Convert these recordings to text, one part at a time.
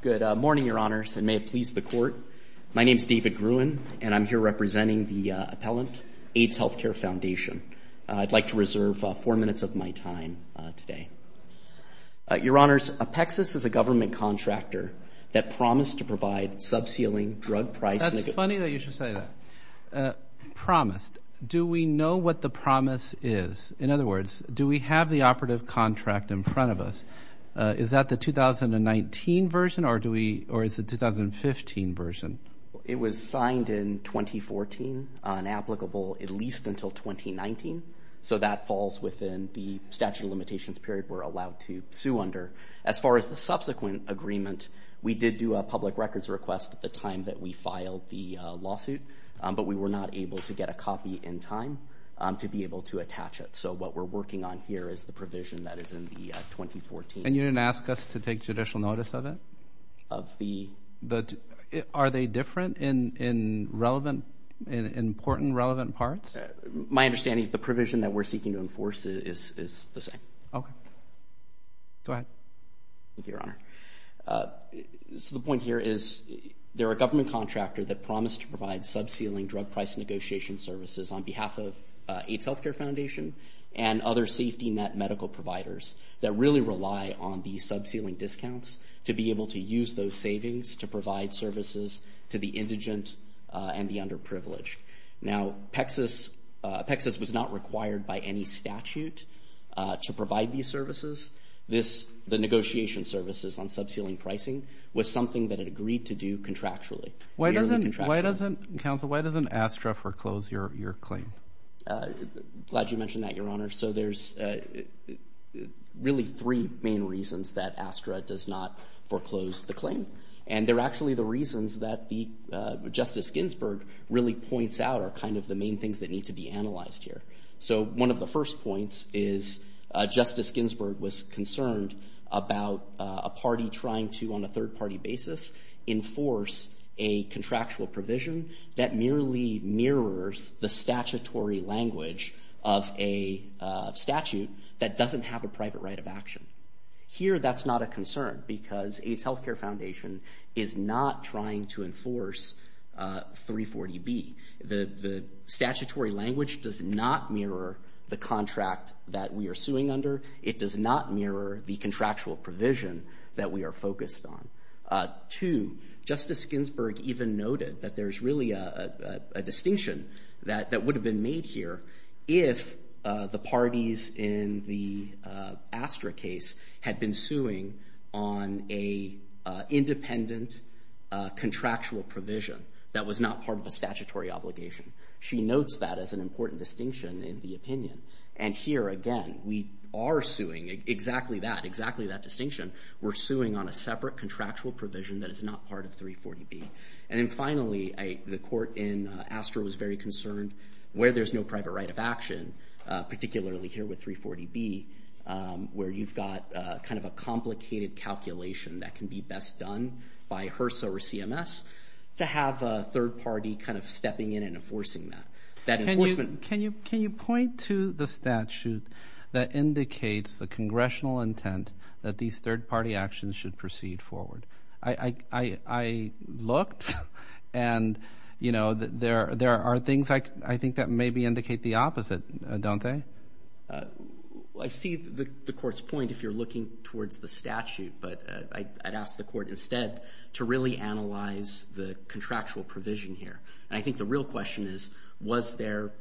Good morning, Your Honors, and may it please the Court, my name is David Gruen, and I'm here representing the appellant, Aids Healthcare Foundation. I'd like to reserve four minutes of my time today. Your Honors, Apexus is a government contractor that promised to provide sub-ceiling drug price... That's funny that you should say that. Promised. Do we know what the promise is? In other words, do we have the operative contract in front of us? Is that the 2019 version, or do we, or is it 2015 version? It was signed in 2014, unapplicable at least until 2019, so that falls within the statute of limitations period we're allowed to sue under. As far as the subsequent agreement, we did do a public records request at the time that we filed the lawsuit, but we were not able to get a copy in time to be able to attach it. So what we're working on here is the provision that is in the 2014... And you didn't ask us to take judicial notice of it? Of the... Are they different in relevant, in important relevant parts? My Your Honor, the point here is they're a government contractor that promised to provide sub-ceiling drug price negotiation services on behalf of AIDS Healthcare Foundation and other safety net medical providers that really rely on these sub-ceiling discounts to be able to use those savings to provide services to the indigent and the underprivileged. Now Apexus was not services on sub-ceiling pricing was something that it agreed to do contractually. Why doesn't contractually? Counsel, why doesn't ASTRA foreclose your claim? Glad you mentioned that, Your Honor. So there's really three main reasons that ASTRA does not foreclose the claim. And they're actually the reasons that the Justice Ginsburg really points out are kind of the main things that need to be analyzed here. So one of the first points is Justice Ginsburg was concerned about a party trying to, on a third-party basis, enforce a contractual provision that merely mirrors the statutory language of a statute that doesn't have a private right of action. Here that's not a concern because AIDS Healthcare Foundation is not trying to enforce 340B. The statutory language does not mirror the contract that we are suing under. It does not mirror the contractual provision that we are focused on. Two, Justice Ginsburg even noted that there's really a distinction that would have been made here if the parties in the ASTRA case had been suing on an independent contractual provision that was not part of a statutory obligation. She notes that as an important distinction in the opinion. And here, again, we are suing exactly that, exactly that distinction. We're suing on a separate contractual provision that is not part of 340B. And then finally, the court in ASTRA was very concerned where there's no private right of action, particularly here with 340B, where you've got kind of a complicated calculation that can be best done by HRSA or CMS to have a third party kind of stepping in and intent that these third party actions should proceed forward. I looked and, you know, there are things I think that maybe indicate the opposite, don't they? I see the court's point if you're looking towards the statute, but I'd ask the court instead to really analyze the contractual provision here. And I think the real question is, was there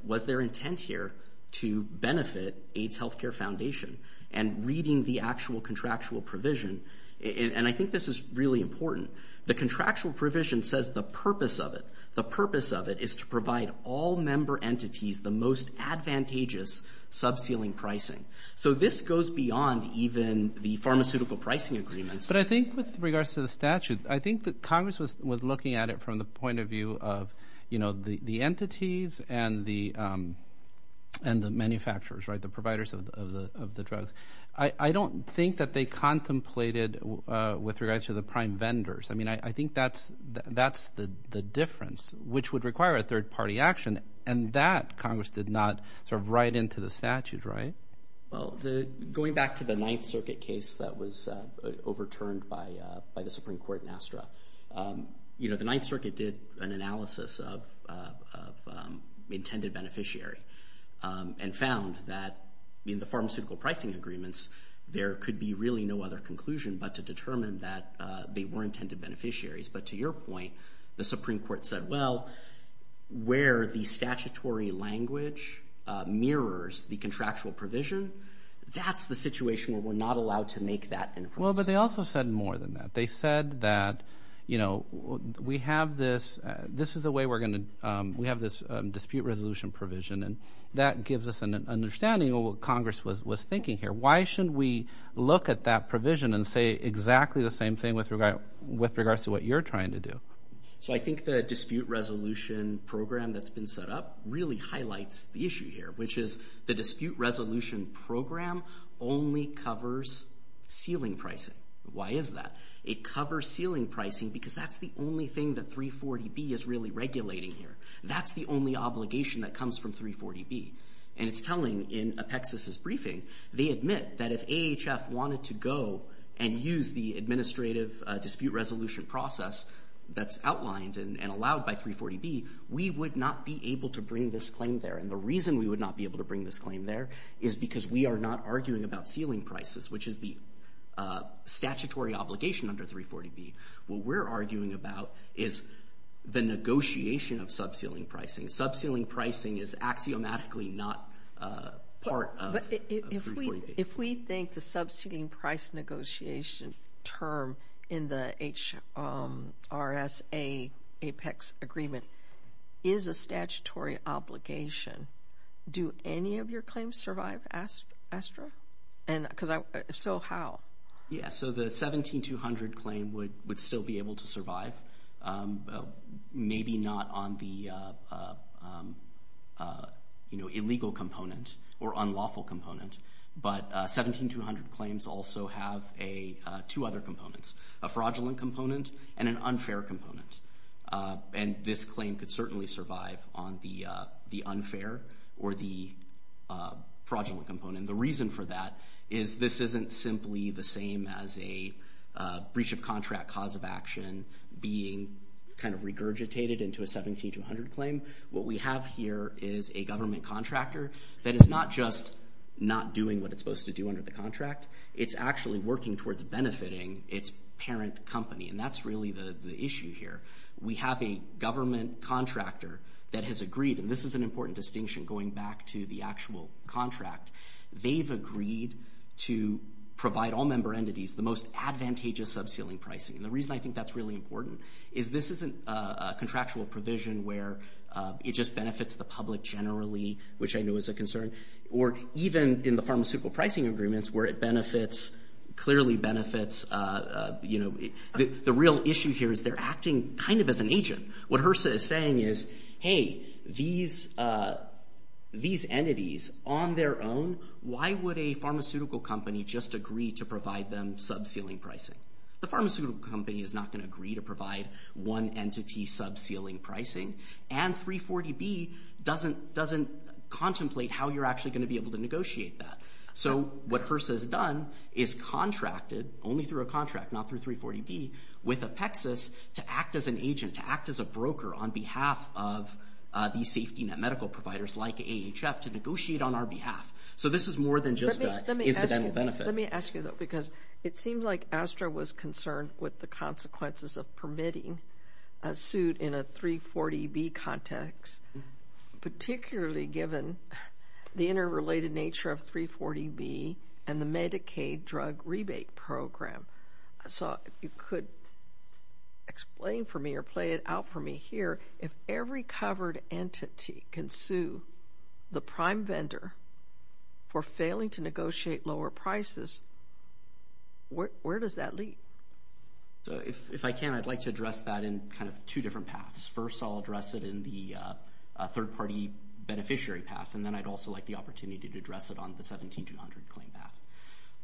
intent here to benefit AIDS Healthcare Foundation? And reading the actual contractual provision, and I think this is really important, the contractual provision says the purpose of it, the purpose of it is to provide all member entities the most advantageous subceiling pricing. So this goes beyond even the pharmaceutical pricing agreements. But I think with regards to the statute, I think that Congress was looking at it from the point of view of the entities and the manufacturers, right, the providers of the drugs. I don't think that they contemplated with regards to the prime vendors. I mean, I think that's the difference, which would require a third party action, and that Congress did not sort of write into the statute, right? Well, going back to the Ninth Circuit case that was overturned by the Supreme Court in Astra, you know, the Ninth Circuit did an analysis of the intended beneficiary and found that in the pharmaceutical pricing agreements, there could be really no other conclusion but to determine that they were intended beneficiaries. But to your point, the Supreme Court said, well, where the statutory language mirrors the contractual provision, that's the situation where we're not allowed to make that inference. But they also said more than that. They said that, you know, we have this dispute resolution provision, and that gives us an understanding of what Congress was thinking here. Why should we look at that provision and say exactly the same thing with regards to what you're trying to do? So I think the dispute resolution program that's been set up really highlights the issue here, which is the dispute resolution program only covers ceiling pricing. Why is that? It covers ceiling pricing because that's the only thing that 340B is really regulating here. That's the only obligation that comes from 340B. And it's telling in Apexis' briefing, they admit that if AHF wanted to go and use the administrative dispute resolution process that's outlined and allowed by 340B, we would not be able to bring this claim there. And the reason we would not be able to bring this claim there is because we are not arguing about ceiling prices, which is the statutory obligation under 340B. What we're arguing about is the negotiation of subceiling pricing. Subceiling pricing is axiomatically not part of 340B. But if we think the subceiling price negotiation term in the HRSA Apex agreement is a statutory obligation, do any of your claims survive, Astra? And so how? Yeah, so the 17200 claim would still be able to survive. Maybe not on the two other components, a fraudulent component and an unfair component. And this claim could certainly survive on the unfair or the fraudulent component. The reason for that is this isn't simply the same as a breach of contract cause of action being regurgitated into a 17200 claim. What we have here is a government contractor that is not just not doing what it's supposed to do under the contract. It's actually working towards benefiting its parent company. And that's really the issue here. We have a government contractor that has agreed, and this is an important distinction going back to the actual contract. They've agreed to provide all member entities the most advantageous subceiling pricing. And the reason I think that's really important is this isn't a contractual provision where it just benefits the public generally, which I know is a concern, or even in the pharmaceutical pricing agreements where it clearly benefits... The real issue here is they're acting kind of as an agent. What HRSA is saying is, hey, these entities on their own, why would a pharmaceutical company just agree to provide them subceiling pricing? The pharmaceutical company is not going to agree to provide one entity subceiling pricing. And 340B doesn't contemplate how you're actually going to be able to negotiate that. So what HRSA has done is contracted, only through a contract, not through 340B, with Apexis to act as an agent, to act as a broker on behalf of these safety net medical providers like AHF to negotiate on our behalf. So this is more than just an incidental benefit. Let me ask you, though, because it seems like ASTRA was concerned with the consequences of permitting a suit in a 340B context, particularly given the interrelated nature of 340B and the Medicaid drug rebate program. So if you could explain for me or play it out for me here, if every covered entity can sue the prime vendor for failing to negotiate lower prices, where does that lead? So if I can, I'd like to address that in kind of two different paths. First, I'll address it in the third-party beneficiary path, and then I'd also like the opportunity to address it on the 17200 claim path.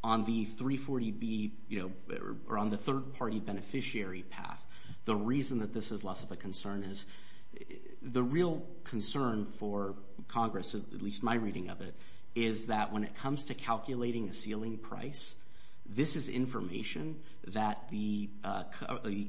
On the 340B, you know, or on the third-party beneficiary path, the reason that this is less of a concern is the real concern for Congress, at least my reading of it, is that when it comes to calculating a ceiling price, this is information that the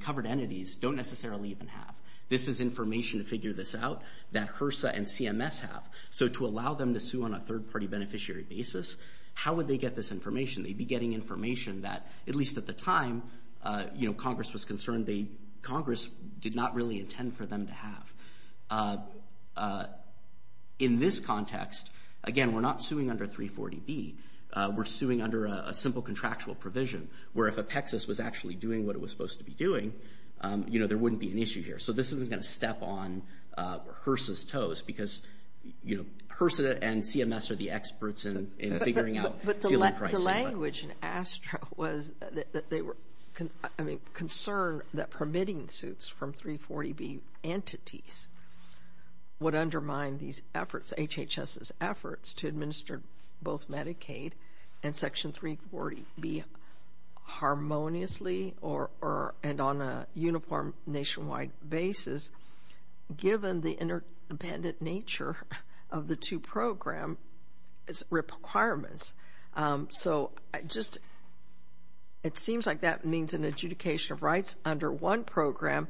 covered entities don't necessarily even have. This is information to figure this out that HRSA and CMS have. So to allow them to sue on a third-party beneficiary basis, how would they get this information? They'd be getting information that, at least at the time, you know, Congress was concerned, Congress did not really intend for them to have. In this context, again, we're not suing under 340B. We're suing under a simple contractual provision, where if Apexis was actually doing what it was supposed to be doing, you know, there wouldn't be an issue here. So this isn't going to step on HRSA's toes because, you know, HRSA and CMS are the experts in figuring out ceiling pricing. But the language in ASTRA was that they were, I mean, concerned that permitting suits from 340B entities would undermine these efforts, HHS's efforts, to administer both Medicaid and Section 340B harmoniously or, and on a uniform nationwide basis, given the interdependent nature of the two program requirements. So I just, it seems like that means an adjudication of rights under one program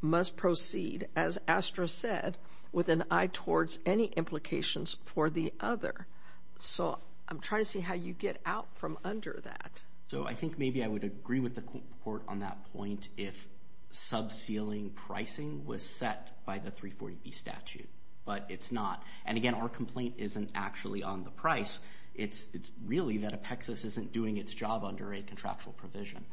must proceed, as ASTRA said, with an eye towards any implications for the other. So I'm trying to see how you get out from under that. So I think maybe I would agree with the court on that point if sub-ceiling pricing was set by the 340B statute, but it's not. And again, our complaint isn't actually on the price. It's really that Apexis isn't doing its job under a contractual provision,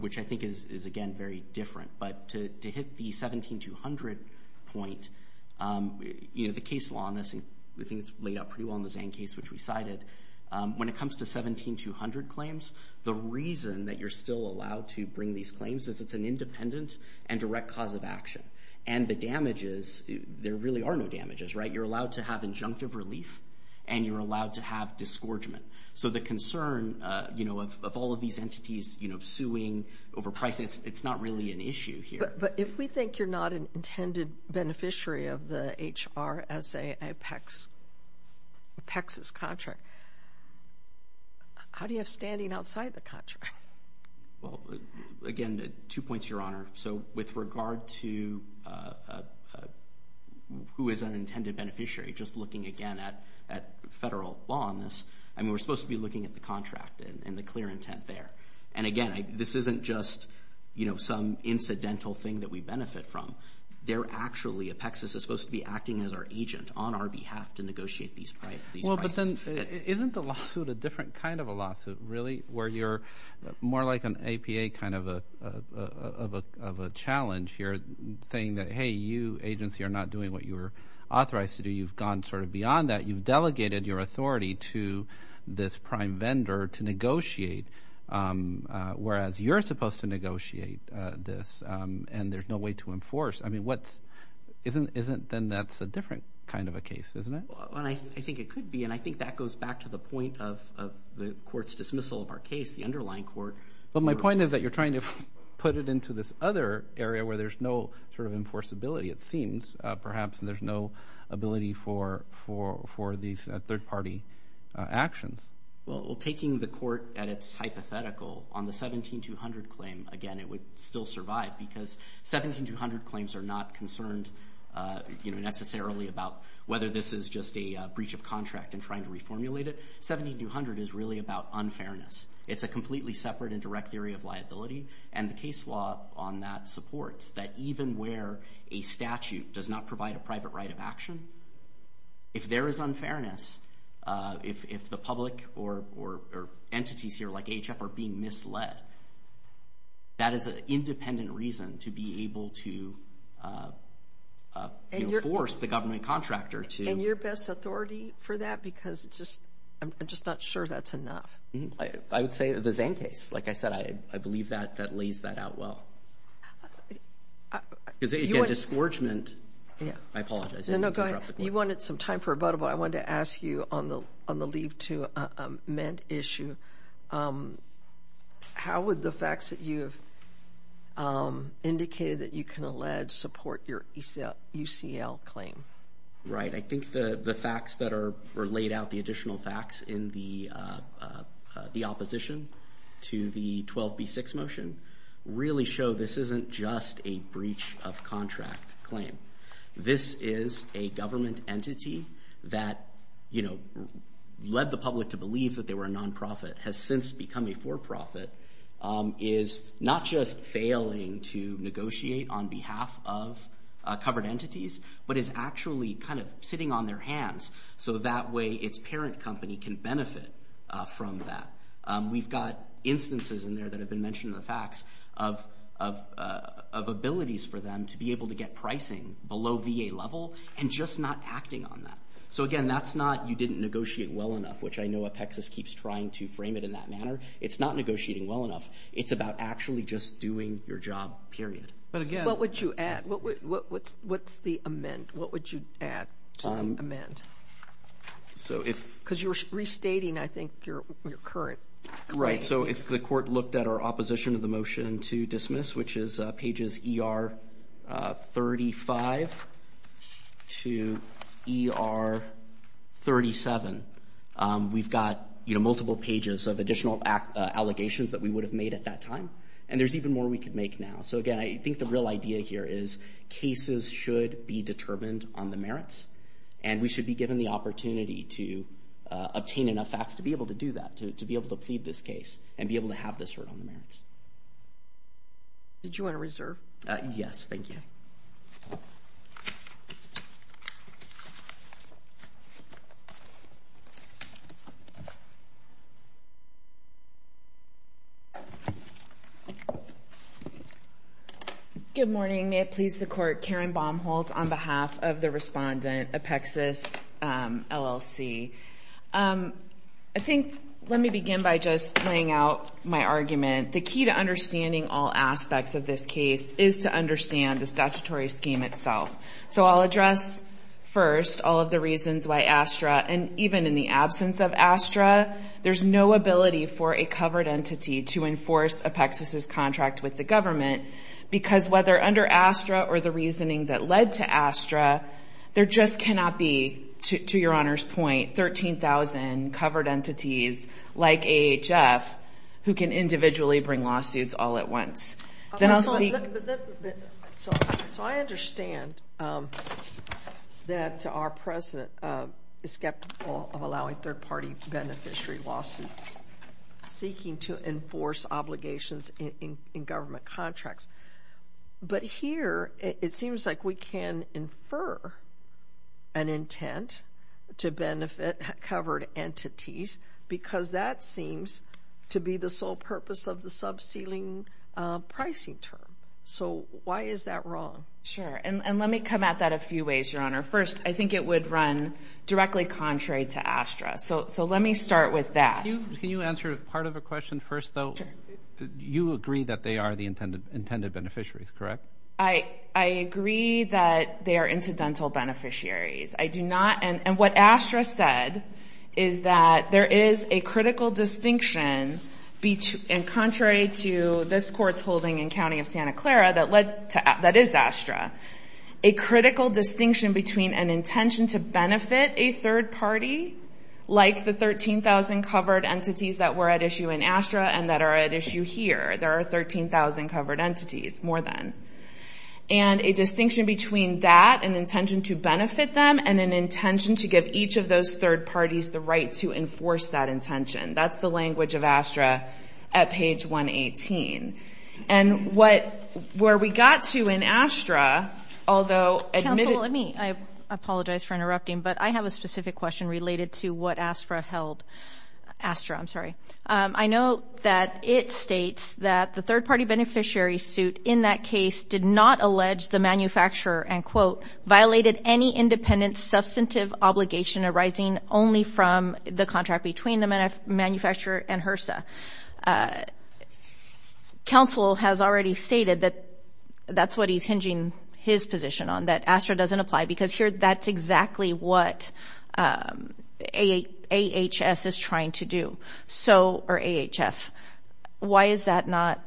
which I think is, again, very different. But to hit the 17200 point, you know, the case law, and I think it's laid out pretty well in the Zang case, which we cited, when it comes to 17200 claims, the reason that you're still allowed to bring these claims is it's an independent and direct cause of action. And the damages, there really are no damages, right? You're allowed to have injunctive relief, and you're allowed to have disgorgement. So the concern, you know, of all of these entities, you know, suing over pricing, it's not really an issue here. But if we think you're not an intended beneficiary of the HRSA Apexis contract, how do you have standing outside the contract? Well, again, two points, Your Honor. So with regard to who is an intended beneficiary, just looking, again, at federal law on this, I mean, we're supposed to be looking at the contract and the clear intent there. And again, this isn't just, you know, some incidental thing that we benefit from. They're actually, Apexis is supposed to be acting as our agent on our behalf to negotiate these prices. Well, but then isn't the lawsuit a different kind of a lawsuit, really, where you're more like an APA kind of a challenge here, saying that, hey, you, agency, are not doing what you authorized to do. You've gone sort of beyond that. You've delegated your authority to this prime vendor to negotiate, whereas you're supposed to negotiate this, and there's no way to enforce. I mean, what's, isn't, then that's a different kind of a case, isn't it? I think it could be. And I think that goes back to the point of the court's dismissal of our case, the underlying court. But my point is that you're trying to put it into this other area where there's no sort of enforceability, it seems, perhaps, and there's no ability for these third-party actions. Well, taking the court at its hypothetical, on the 17-200 claim, again, it would still survive because 17-200 claims are not concerned, you know, necessarily about whether this is just a breach of contract and trying to reformulate it. 17-200 is really about unfairness. It's a completely separate and direct theory of liability, and the case law on that supports that even where a statute does not provide a private right of action, if there is unfairness, if the public or entities here, like AHF, are being misled, that is an independent reason to be able to, you know, force the government contractor to- And your best authority for that? Because I'm just not sure that's enough. I would say the Zane case, like I said, I believe that lays that out well. Because, again, disgorgement- Yeah. I apologize. No, no, go ahead. You wanted some time for rebuttal, but I wanted to ask you on the leave to amend issue, how would the facts that you have indicated that you can allege support your UCL claim? Right. I think the facts that are laid out, the additional facts in the opposition to the 12B6 motion really show this isn't just a breach of contract claim. This is a government entity that, you know, led the public to believe that they were a non-profit, has since become a for-profit, is not just failing to negotiate on behalf of covered entities, but is actually kind of sitting on their hands so that way its parent company can benefit from that. We've got instances in there that have been mentioned in the facts of abilities for them to be able to get pricing below VA level and just not acting on that. So, again, that's not you didn't negotiate well enough, which I keep trying to frame it in that manner. It's not negotiating well enough. It's about actually just doing your job, period. But again- What would you add? What's the amend? What would you add to the amend? Because you're restating, I think, your current- Right. So if the court looked at our multiple pages of additional allegations that we would have made at that time, and there's even more we could make now. So, again, I think the real idea here is cases should be determined on the merits, and we should be given the opportunity to obtain enough facts to be able to do that, to be able to plead this case and be able to have this written on the record. Good morning. May it please the court, Karen Baumholtz on behalf of the respondent, Apexis LLC. I think let me begin by just laying out my argument. The key to understanding all aspects of this case is to understand the statutory scheme itself. So I'll address first all of the reasons why ASTRA, and even in the absence of ASTRA, there's no ability for a covered entity to enforce Apexis's contract with the government. Because whether under ASTRA or the reasoning that led to ASTRA, there just cannot be, to your Honor's point, 13,000 covered entities like AHF who can individually bring lawsuits all at once. Then I'll speak- So I understand that our president is skeptical of allowing third-party beneficiary lawsuits, seeking to enforce obligations in government contracts. But here it seems like we can infer an intent to benefit covered entities because that seems to be the sole purpose of the subsealing pricing term. So why is that wrong? Sure. And let me come at that a few ways, your Honor. First, I think it would run directly contrary to ASTRA. So let me start with that. Can you answer part of a question first, though? You agree that they are the intended beneficiaries, correct? I agree that they are incidental beneficiaries. I do not- And what ASTRA said is that there is a critical distinction, and contrary to this Court's holding in County of Santa Clara that is ASTRA, a critical distinction between an intention to benefit a third party, like the 13,000 covered entities that were at issue in ASTRA and that are at issue here. There are 13,000 covered entities, more than. And a distinction between that, an intention to benefit them, and an intention to give each of those third parties the right to enforce that intention. That's the language of ASTRA at page 118. And what, where we got to in ASTRA, although- Counsel, let me, I apologize for interrupting, but I have a specific question related to what ASTRA held. ASTRA, I'm sorry. I know that it states that the third party beneficiary suit in that case did not allege the manufacturer, and quote, violated any independent substantive obligation arising only from the contract between the manufacturer and HRSA. Counsel has already stated that that's what he's hinging his position on, that ASTRA doesn't apply, because here that's exactly what AHS is trying to do. So, or AHF. Why is that not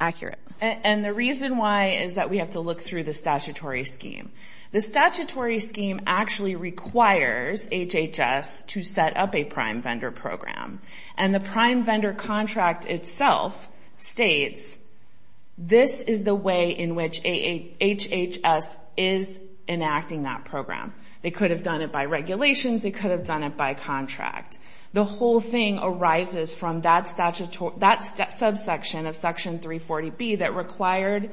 accurate? And the reason why is that we have to look through the statutory scheme. The statutory scheme actually requires HHS to set up a prime vendor program. And the prime vendor contract itself states this is the way in which HHS is enacting that program. They could have done it by regulations. They could have done it by contract. The whole thing arises from that subsection of Section 340B that required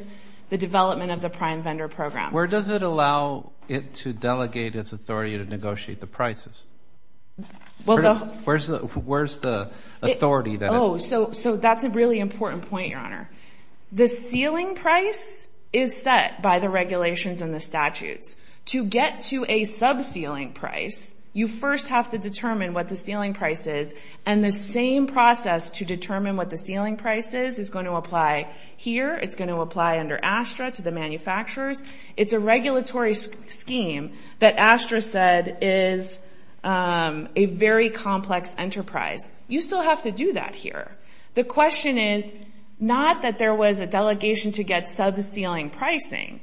the development of the prime vendor program. Where does it allow it to delegate its authority to negotiate the prices? Where's the authority that- Oh, so that's a really important point, Your Honor. The ceiling price is set by the regulations and the statutes. To get to a sub-ceiling price, you first have to determine what the ceiling price is, and the same process to determine what the ceiling price is is going to apply here. It's going to apply under ASTRA to the manufacturers. It's a regulatory scheme that ASTRA said is a very complex enterprise. You still have to do that here. The question is not that there was a delegation to get sub-ceiling pricing.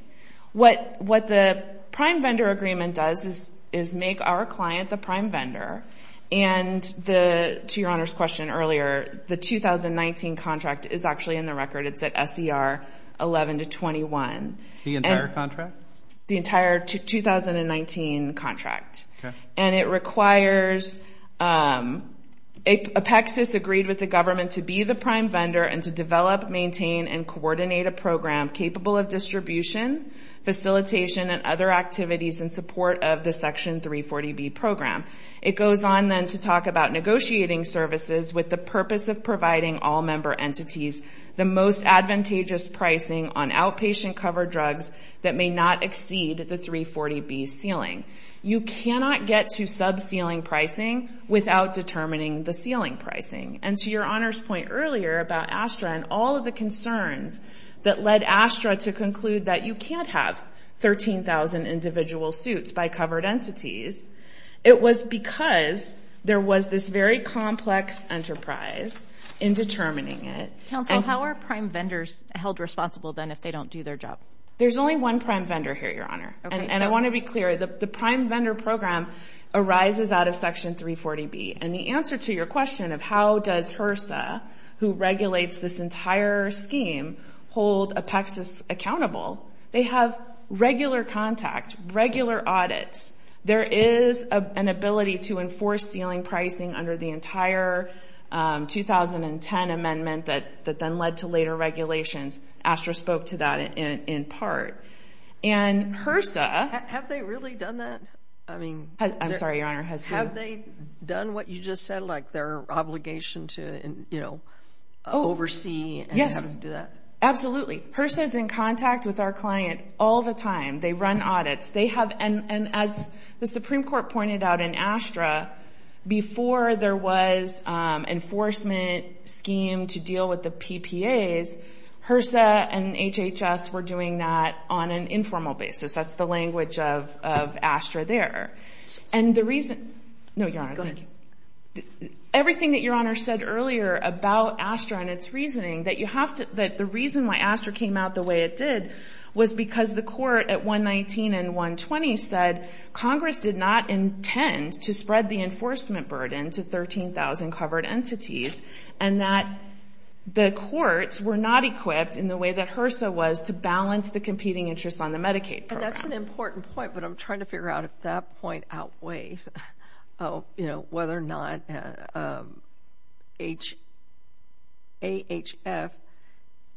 What the prime vendor agreement does is make our client the prime vendor. To Your Honor's question earlier, the 2019 contract is actually in the record. It's at SER 11 to 21. The entire contract? The entire 2019 contract. It requires a PECSIS agreed with the government to be the prime vendor and to develop, maintain, and coordinate a program capable of distribution, facilitation, and other activities in support of the Section 340B program. It goes on then to talk about negotiating services with the purpose of providing all member entities the most advantageous pricing on outpatient covered drugs that may not exceed the 340B ceiling. You cannot get to sub-ceiling pricing without determining the ceiling pricing. And to Your Honor's point earlier about ASTRA and all of the concerns that led ASTRA to entities, it was because there was this very complex enterprise in determining it. Counsel, how are prime vendors held responsible then if they don't do their job? There's only one prime vendor here, Your Honor. And I want to be clear. The prime vendor program arises out of Section 340B. And the answer to your question of how does HRSA, who regulates this there is an ability to enforce ceiling pricing under the entire 2010 amendment that then led to later regulations. ASTRA spoke to that in part. And HRSA... Have they really done that? I mean... I'm sorry, Your Honor, has who? Have they done what you just said, like their obligation to, you know, oversee? Yes. Absolutely. HRSA is in contact with our client all the time. They run audits. They have, and as the Supreme Court pointed out in ASTRA, before there was enforcement scheme to deal with the PPAs, HRSA and HHS were doing that on an informal basis. That's the language of ASTRA there. And the reason... No, Your Honor. Go ahead. Everything that Your Honor said earlier about ASTRA and its reasoning, that you have to, that reason why ASTRA came out the way it did was because the court at 119 and 120 said Congress did not intend to spread the enforcement burden to 13,000 covered entities and that the courts were not equipped in the way that HRSA was to balance the competing interests on the Medicaid program. That's an important point, but I'm trying to figure out if that point outweighs, you know,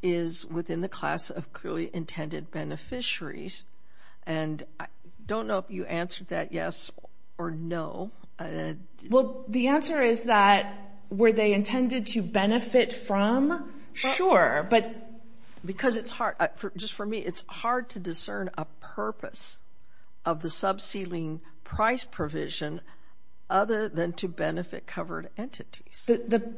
is within the class of clearly intended beneficiaries. And I don't know if you answered that yes or no. Well, the answer is that were they intended to benefit from? Sure, but... Because it's hard, just for me, it's hard to discern a purpose of the subsealing price provision other than to benefit covered entities. The...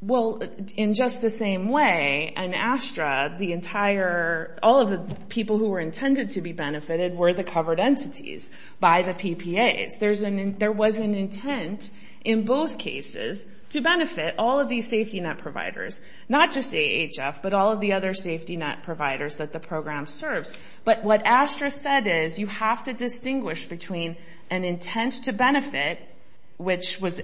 Well, in just the same way, in ASTRA, the entire, all of the people who were intended to be benefited were the covered entities by the PPAs. There was an intent in both cases to benefit all of these safety net providers, not just AHF, but all of the other safety net providers that the program serves. But what ASTRA said is you have to distinguish between an intent to benefit, which was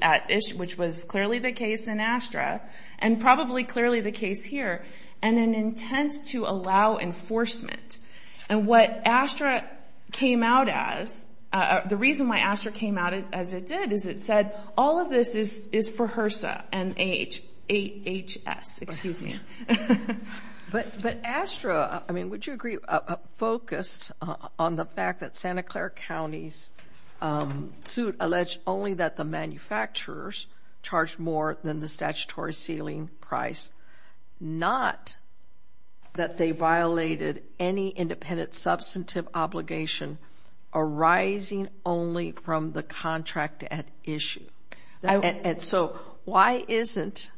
clearly the case in ASTRA, and probably clearly the case here, and an intent to allow enforcement. And what ASTRA came out as, the reason why ASTRA came out as it did is it said all of this is for HRSA and AHS, excuse me. But ASTRA, I mean, would you agree, focused on the fact that Santa Clara County's suit alleged only that the manufacturers charged more than the statutory sealing price, not that they violated any independent substantive obligation arising only from the contract at issue. And so why isn't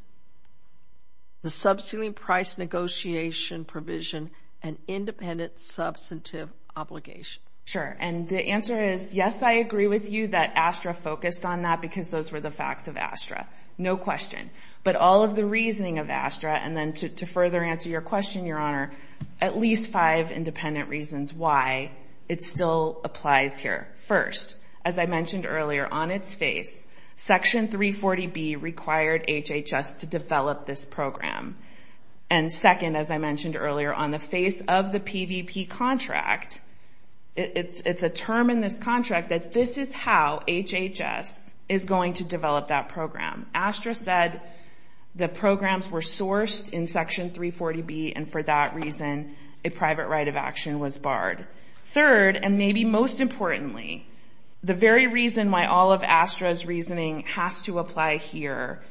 the sub sealing price negotiation provision an independent substantive obligation? Sure. And the answer is, yes, I agree with you that ASTRA focused on that because those were the facts of ASTRA. No question. But all of the reasoning of ASTRA, and then to further answer your question, Your Honor, at least five independent reasons why it still applies here. First, as I mentioned earlier, on its face, Section 340B required HHS to develop this program. And second, as I mentioned earlier, on the face of the PVP contract, it's a term in this contract that this is how HHS is going to develop that program. ASTRA said the programs were sourced in Section 340B, and for that reason, a private right of action was barred. Third, and maybe most importantly, the very reason why all of ASTRA's reasoning has to apply here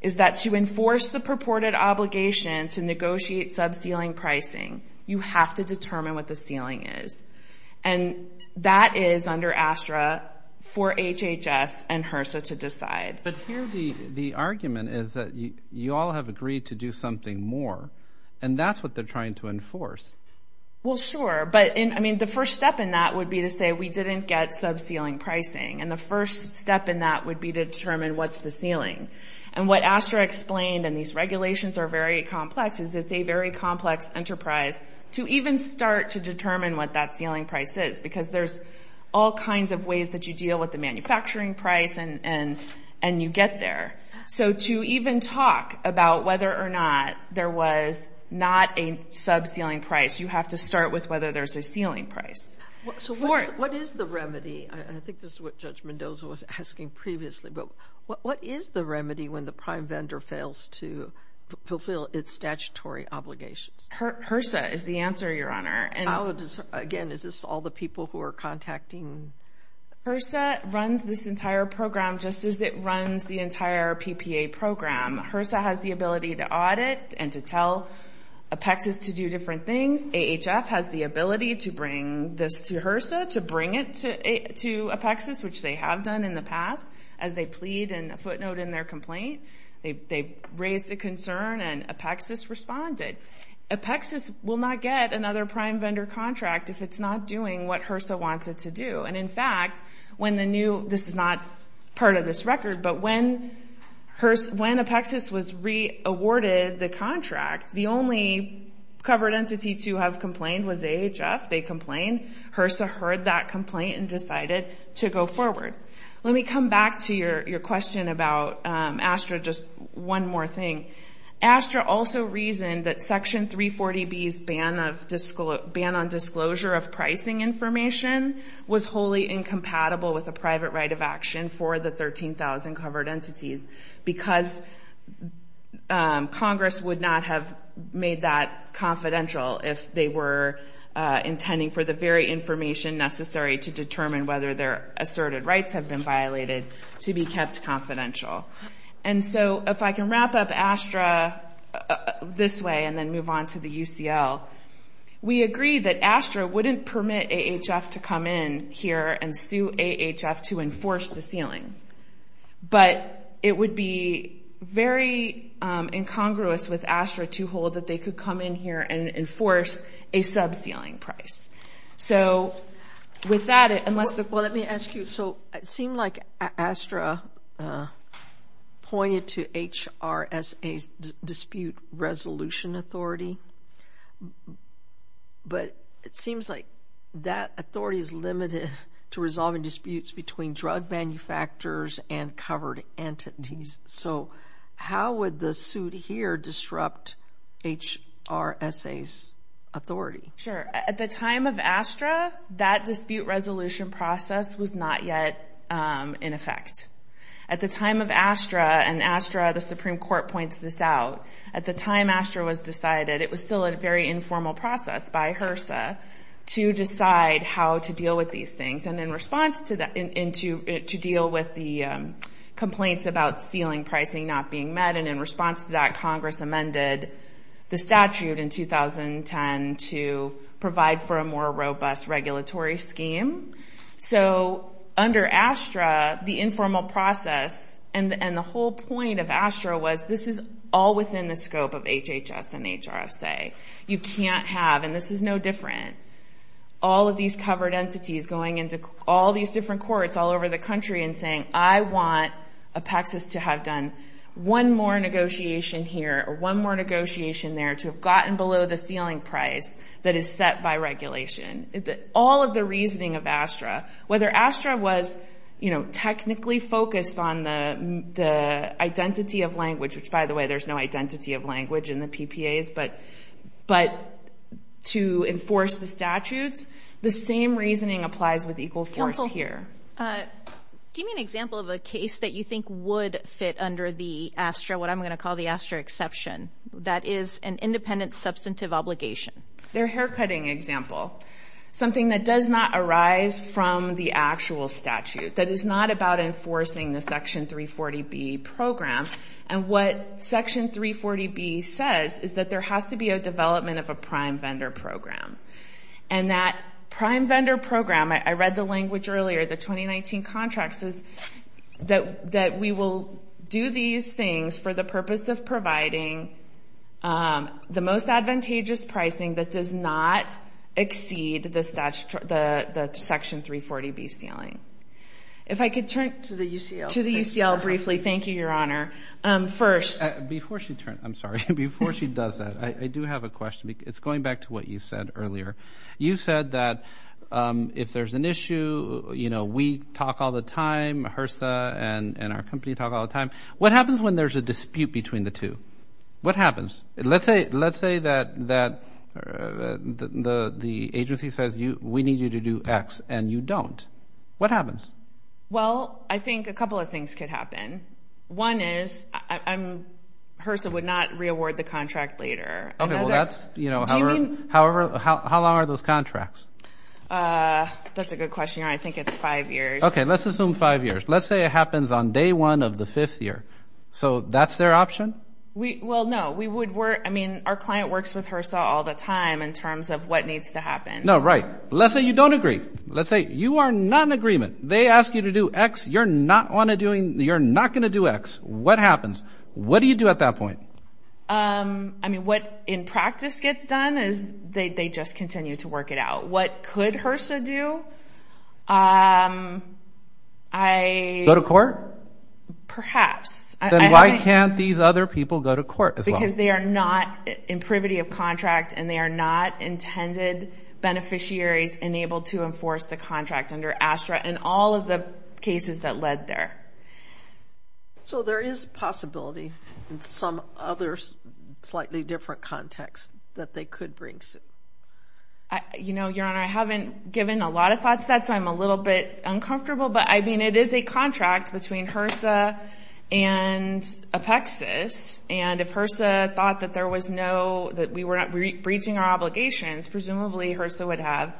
is that to enforce the purported obligation to negotiate sub sealing pricing, you have to determine what the sealing is. And that is under ASTRA for HHS and HRSA to decide. But here, the argument is that you all have agreed to do something more. And that's what they're trying to enforce. Well, sure. But I mean, the first step in that would be to say we didn't get sub sealing pricing. And the first step in that would be to determine what's the sealing. And what ASTRA explained, and these regulations are very complex, is it's a very complex enterprise to even start to determine what that sealing price is. Because there's all kinds of ways that you deal with the manufacturing price and you get there. So to even talk about whether or not there was not a sub sealing price, you have to start with whether there's a sealing price. So what is the remedy? And I think this is what Judge Mendoza was asking previously, but what is the remedy when the prime vendor fails to fulfill its statutory obligations? HRSA is the answer, Your Honor. And again, is this all the people who are contacting? HRSA runs this entire program just as it runs the entire PPA program. HRSA has the ability to audit and to tell Apexis to do different things. AHF has the ability to bring this to HRSA, to bring it to Apexis, which they have done in the past, as they plead and footnote in their complaint. They raised a concern and Apexis responded. Apexis will not get another prime contract if it's not doing what HRSA wants it to do. And in fact, when the new, this is not part of this record, but when Apexis was re-awarded the contract, the only covered entity to have complained was AHF. They complained. HRSA heard that complaint and decided to go forward. Let me come back to your question about ASTRA, just one more thing. ASTRA also reasoned that Section 340B's ban on disclosure of pricing information was wholly incompatible with a private right of action for the 13,000 covered entities, because Congress would not have made that confidential if they were intending for the very information necessary to determine whether their asserted rights have been violated to be kept confidential. And so if I can wrap up ASTRA this way and then move on to the UCL, we agree that ASTRA wouldn't permit AHF to come in here and sue AHF to enforce the ceiling. But it would be very incongruous with ASTRA to hold that they could come in here and enforce a sub-ceiling price. So with that, unless the... Well, let me ask you, it seemed like ASTRA pointed to HRSA's dispute resolution authority, but it seems like that authority is limited to resolving disputes between drug manufacturers and covered entities. So how would the suit here disrupt HRSA's authority? Sure. At the time of in effect. At the time of ASTRA, and ASTRA, the Supreme Court points this out, at the time ASTRA was decided, it was still a very informal process by HRSA to decide how to deal with these things. And in response to that, to deal with the complaints about ceiling pricing not being met, and in response to that, Congress amended the statute in 2010 to provide for a more robust regulatory scheme. So under ASTRA, the informal process and the whole point of ASTRA was this is all within the scope of HHS and HRSA. You can't have, and this is no different, all of these covered entities going into all these different courts all over the country and saying, I want Apexis to have done one more negotiation here or one more negotiation there to have gotten the ceiling price that is set by regulation. All of the reasoning of ASTRA, whether ASTRA was, you know, technically focused on the identity of language, which by the way, there's no identity of language in the PPAs, but to enforce the statutes, the same reasoning applies with equal force here. Give me an example of a case that you think would fit under the ASTRA, what I'm going to obligation? Their haircutting example, something that does not arise from the actual statute, that is not about enforcing the Section 340B program, and what Section 340B says is that there has to be a development of a prime vendor program, and that prime vendor program, I read the language earlier, the 2019 contracts, is that we will do these things for the purpose of providing the most advantageous pricing that does not exceed the Section 340B ceiling. If I could turn to the UCL briefly. Thank you, Your Honor. First, before she turns, I'm sorry, before she does that, I do have a question. It's going back to what you said earlier. You said that if there's an issue, you know, we talk all the time, HRSA and our company talk all the time. What happens when there's a dispute between the two? What happens? Let's say that the agency says, we need you to do X, and you don't. What happens? Well, I think a couple of things could happen. One is, HRSA would not reaward the contract later. Okay, well that's, you know, however, how long are those contracts? That's a good question, Your Honor. I think it's five years. Okay, let's assume five years. Let's say it happens on day one of the fifth year. So that's their option? Well, no, we would work, I mean, our client works with HRSA all the time in terms of what needs to happen. No, right. Let's say you don't agree. Let's say you are not in agreement. They ask you to do X. You're not going to do X. What happens? What do you do at that point? I mean, what in practice gets done is they just continue to work it out. What could HRSA do? Go to court? Perhaps. Then why can't these other people go to court as well? Because they are not in privity of contract, and they are not intended beneficiaries enabled to enforce the contract under ASTRA and all of the cases that led there. So there is possibility in some other different contexts that they could bring suit. You know, Your Honor, I haven't given a lot of thoughts to that, so I'm a little bit uncomfortable. But, I mean, it is a contract between HRSA and Apexis. And if HRSA thought that there was no, that we were not breaching our obligations, presumably HRSA would have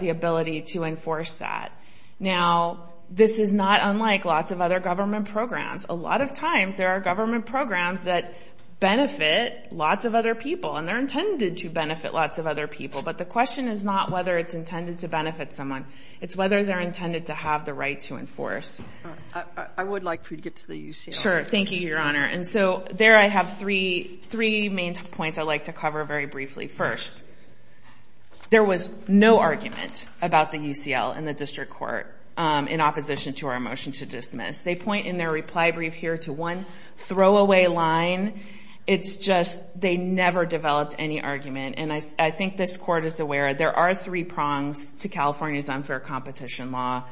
the ability to enforce that. Now, this is not unlike lots of other programs that benefit lots of other people, and they're intended to benefit lots of other people. But the question is not whether it's intended to benefit someone. It's whether they're intended to have the right to enforce. I would like for you to get to the UCL. Sure. Thank you, Your Honor. And so there I have three main points I'd like to cover very briefly. First, there was no argument about the UCL in the district court in opposition to our motion to throw away line. It's just they never developed any argument. And I think this court is aware there are three prongs to California's unfair competition law.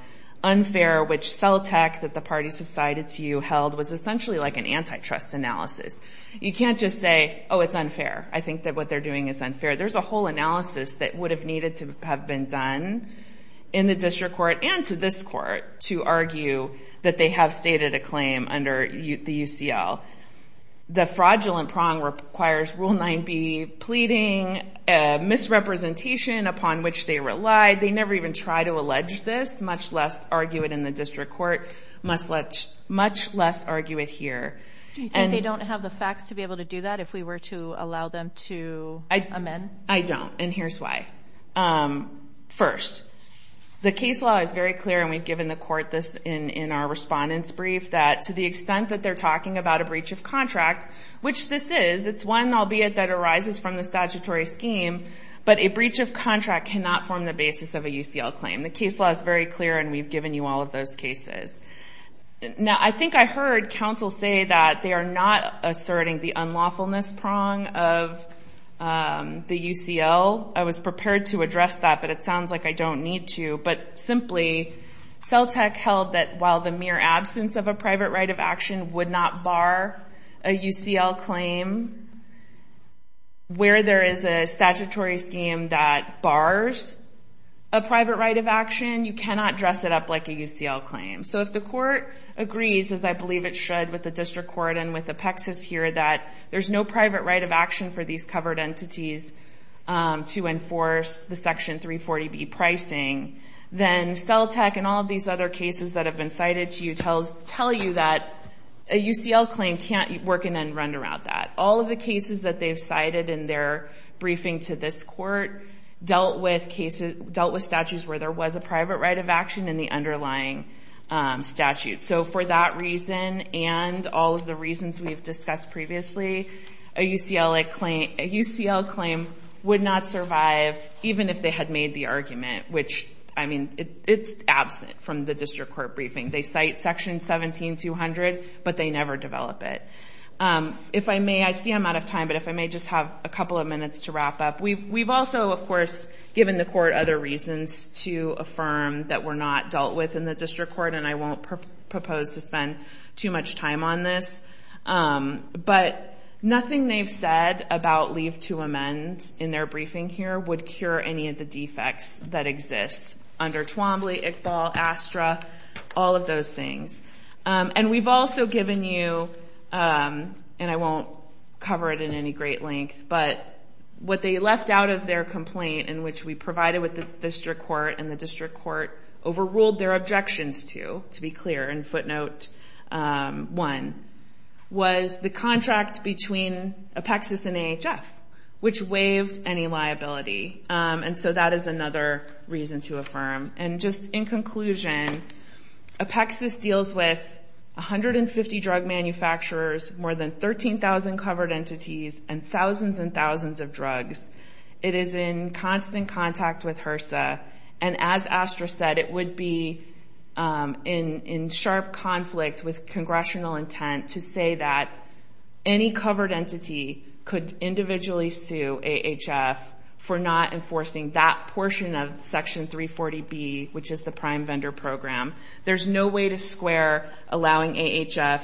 Unfair, which CELTEC, that the parties have cited to you, held was essentially like an antitrust analysis. You can't just say, oh, it's unfair. I think that what they're doing is unfair. There's a whole analysis that would have needed to have been done in the district court and to this court to argue that they have a claim under the UCL. The fraudulent prong requires Rule 9B pleading, misrepresentation upon which they relied. They never even tried to allege this, much less argue it in the district court, much less argue it here. And they don't have the facts to be able to do that if we were to allow them to amend? I don't, and here's why. First, the case law is very clear, and we've that to the extent that they're talking about a breach of contract, which this is. It's one, albeit that arises from the statutory scheme, but a breach of contract cannot form the basis of a UCL claim. The case law is very clear, and we've given you all of those cases. Now, I think I heard counsel say that they are not asserting the unlawfulness prong of the UCL. I was prepared to address that, but it sounds like I don't need to. But simply, CELTEC held that the mere absence of a private right of action would not bar a UCL claim. Where there is a statutory scheme that bars a private right of action, you cannot dress it up like a UCL claim. So if the court agrees, as I believe it should with the district court and with Apexis here, that there's no private right of action for these covered entities to enforce the Section 340B pricing, then CELTEC and all of these other cases that have been cited to you tell you that a UCL claim can't work in and run around that. All of the cases that they've cited in their briefing to this court dealt with statutes where there was a private right of action in the underlying statute. So for that reason and all of the reasons we've discussed previously, a UCL claim would not survive even if they had made the argument, which, I mean, it's absent from the district court briefing. They cite Section 17-200, but they never develop it. If I may, I see I'm out of time, but if I may just have a couple of minutes to wrap up. We've also, of course, given the court other reasons to affirm that we're not dealt with in the district court, and I won't propose to spend too much time on this, but nothing they've said about leave to amend in their briefing here would cure any of the defects that exist under Twombly, ICBAL, ASTRA, all of those things. And we've also given you, and I won't cover it in any great length, but what they left out of their complaint in which we provided with the district court and the district court overruled their objections to, to be clear, in footnote one, was the contract between Apexis and AHF, which waived any liability. And so that is another reason to affirm. And just in conclusion, Apexis deals with 150 drug manufacturers, more than 13,000 covered entities, and thousands and thousands of drugs. It is in constant contact with HRSA, and as ASTRA said, it would be in sharp conflict with congressional intent to say that any covered entity could individually sue AHF for not enforcing that portion of Section 340B, which is the prime vendor program. There's no way to square allowing AHF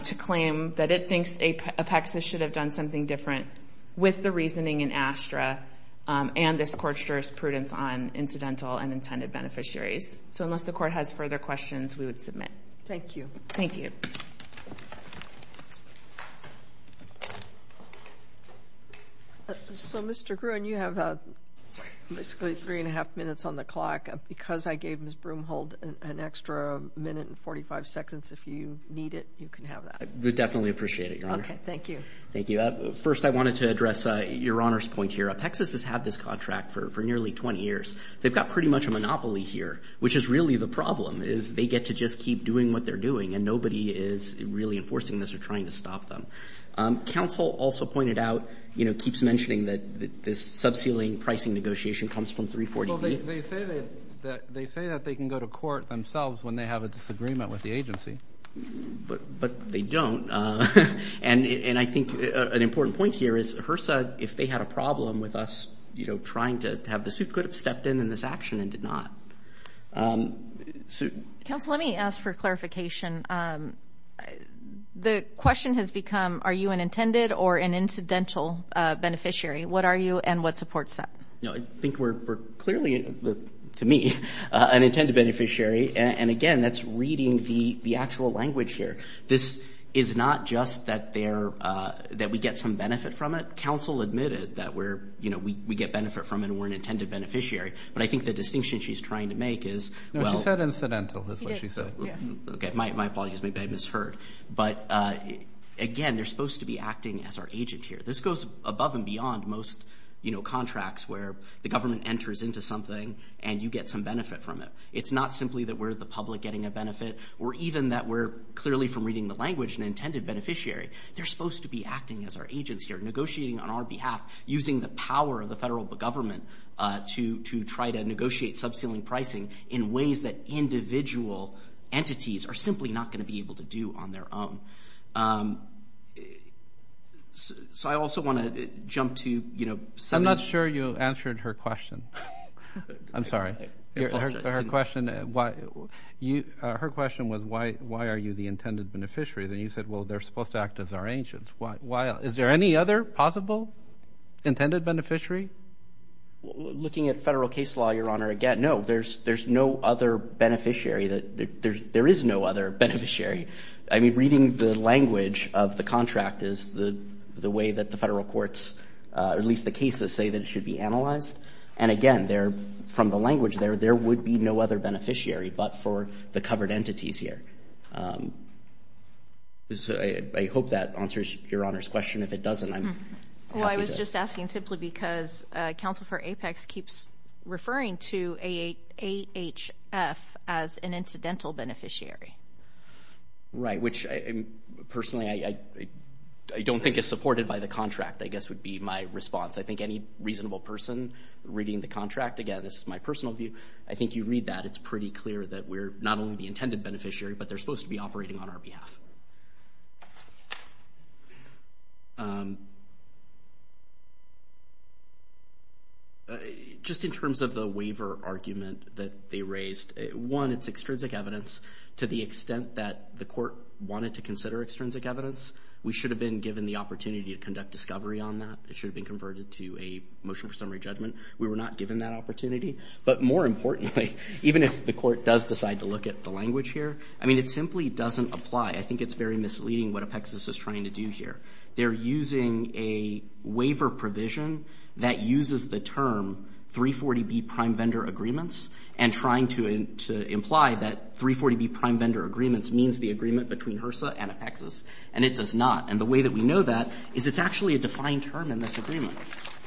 to claim that it thinks Apexis should have done something different with the reasoning in ASTRA and this court's jurisprudence on incidental and intended beneficiaries. So unless the court has further questions, we would submit. Thank you. Thank you. So, Mr. Gruen, you have basically three and a half minutes on the clock. Because I gave Ms. Broomholt an extra minute and 45 seconds, if you need it, you can have that. I would definitely appreciate it, Your Honor. Okay, thank you. Thank you. First, I wanted to address Your Honor's point here. Apexis has had this contract for nearly 20 years. They've got pretty much a monopoly here, which is really the problem, is they get to just keep doing what they're doing, and nobody is really enforcing this or trying to stop them. Counsel also pointed out, you know, keeps mentioning that this subceiling pricing negotiation comes from 340B. Well, they say that they can go to court themselves when they have a disagreement with the agency. But they don't. And I think an important point here is HRSA, if they had a problem with us, you know, trying to have this, who could have stepped in in this action and did not? Counsel, let me ask for clarification. The question has become, are you an intended or an incidental beneficiary? What are you and what supports that? No, I think we're clearly, to me, an intended beneficiary. And again, that's reading the actual language here. This is not just that we get some benefit from it. Counsel admitted that we get benefit from it and we're an intended beneficiary. But I think the distinction she's trying to make is... No, she said incidental, is what she said. Okay, my apologies. Maybe I misheard. But again, they're supposed to be acting as our agent here. This goes above and where the government enters into something and you get some benefit from it. It's not simply that we're the public getting a benefit or even that we're clearly, from reading the language, an intended beneficiary. They're supposed to be acting as our agents here, negotiating on our behalf, using the power of the federal government to try to negotiate subceiling pricing in ways that individual entities are simply not going to be able to do on their own. So I also want to jump to... I'm not sure you answered her question. I'm sorry. Her question was, why are you the intended beneficiary? Then you said, well, they're supposed to act as our agents. Is there any other possible intended beneficiary? Looking at federal case law, Your Honor, again, no, there's no other language of the contract is the way that the federal courts, or at least the cases, say that it should be analyzed. And again, from the language there, there would be no other beneficiary but for the covered entities here. I hope that answers Your Honor's question. If it doesn't, I'm happy to... Well, I was just asking simply because Counsel for Apex keeps referring to AHF as an incidental beneficiary. Right, which personally I don't think is supported by the contract, I guess would be my response. I think any reasonable person reading the contract, again, this is my personal view, I think you read that, it's pretty clear that we're not only the intended beneficiary, but they're supposed to be operating on our behalf. Just in terms of the waiver argument that they raised, one, it's extrinsic evidence to the extent that the court wanted to consider extrinsic evidence. We should have been given the opportunity to conduct discovery on that. It should have been converted to a motion for summary judgment. We were not given that opportunity. But more importantly, even if the court does decide to look at the language here, I mean, it simply doesn't apply. I think it's very misleading what Apexis is trying to do here. They're using a waiver provision that uses the term 340B prime vendor agreements and trying to prime vendor agreements means the agreement between HRSA and Apexis, and it does not. And the way that we know that is it's actually a defined term in this agreement.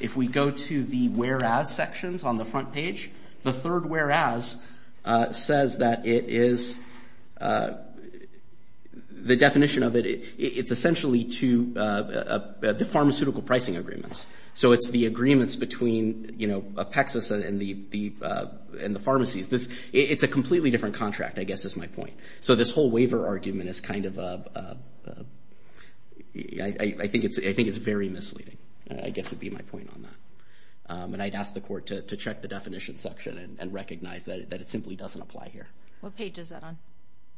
If we go to the whereas sections on the front page, the third whereas says that it is, the definition of it, it's essentially to the pharmaceutical pricing agreements. So it's the agreements between, you know, Apexis and the pharmacies. It's a completely different contract, I guess is my point. So this whole waiver argument is kind of, I think it's very misleading, I guess would be my point on that. And I'd ask the court to check the definition section and recognize that it simply doesn't apply here. What page is that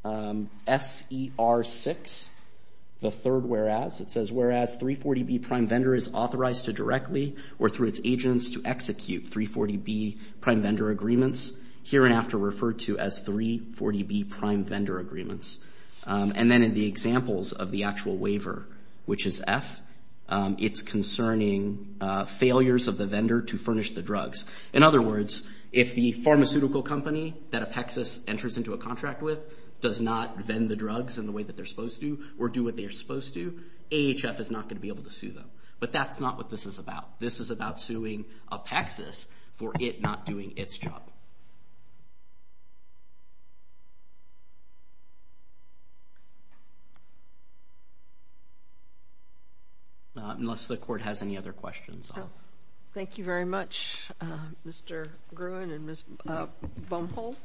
on? SER6, the third whereas. It says, whereas 340B prime vendor is authorized to directly or through its agents to execute 340B prime vendor agreements, here and after referred to as 340B prime vendor agreements. And then in the examples of the actual waiver, which is F, it's concerning failures of the vendor to furnish the drugs. In other words, if the pharmaceutical company that Apexis enters into a contract with does not vend the drugs in the way that they're supposed to or do what they're supposed to, AHF is not going to be able to sue them. But that's not what this is about. This is about suing Apexis for it not doing its job. Unless the court has any other questions. Thank you very much, Mr. Gruen and Ms. Bumholt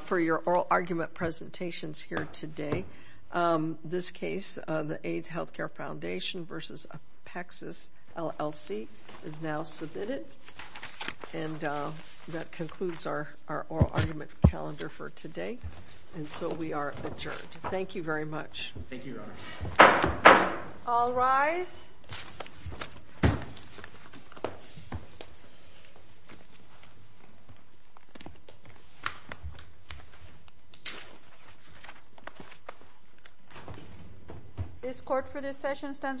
for your oral argument presentations here today. This case, the AIDS Healthcare Foundation versus Apexis LLC is now submitted. And that concludes our oral argument calendar for today. And so we are adjourned. Thank you very much. This court for this session stands adjourned.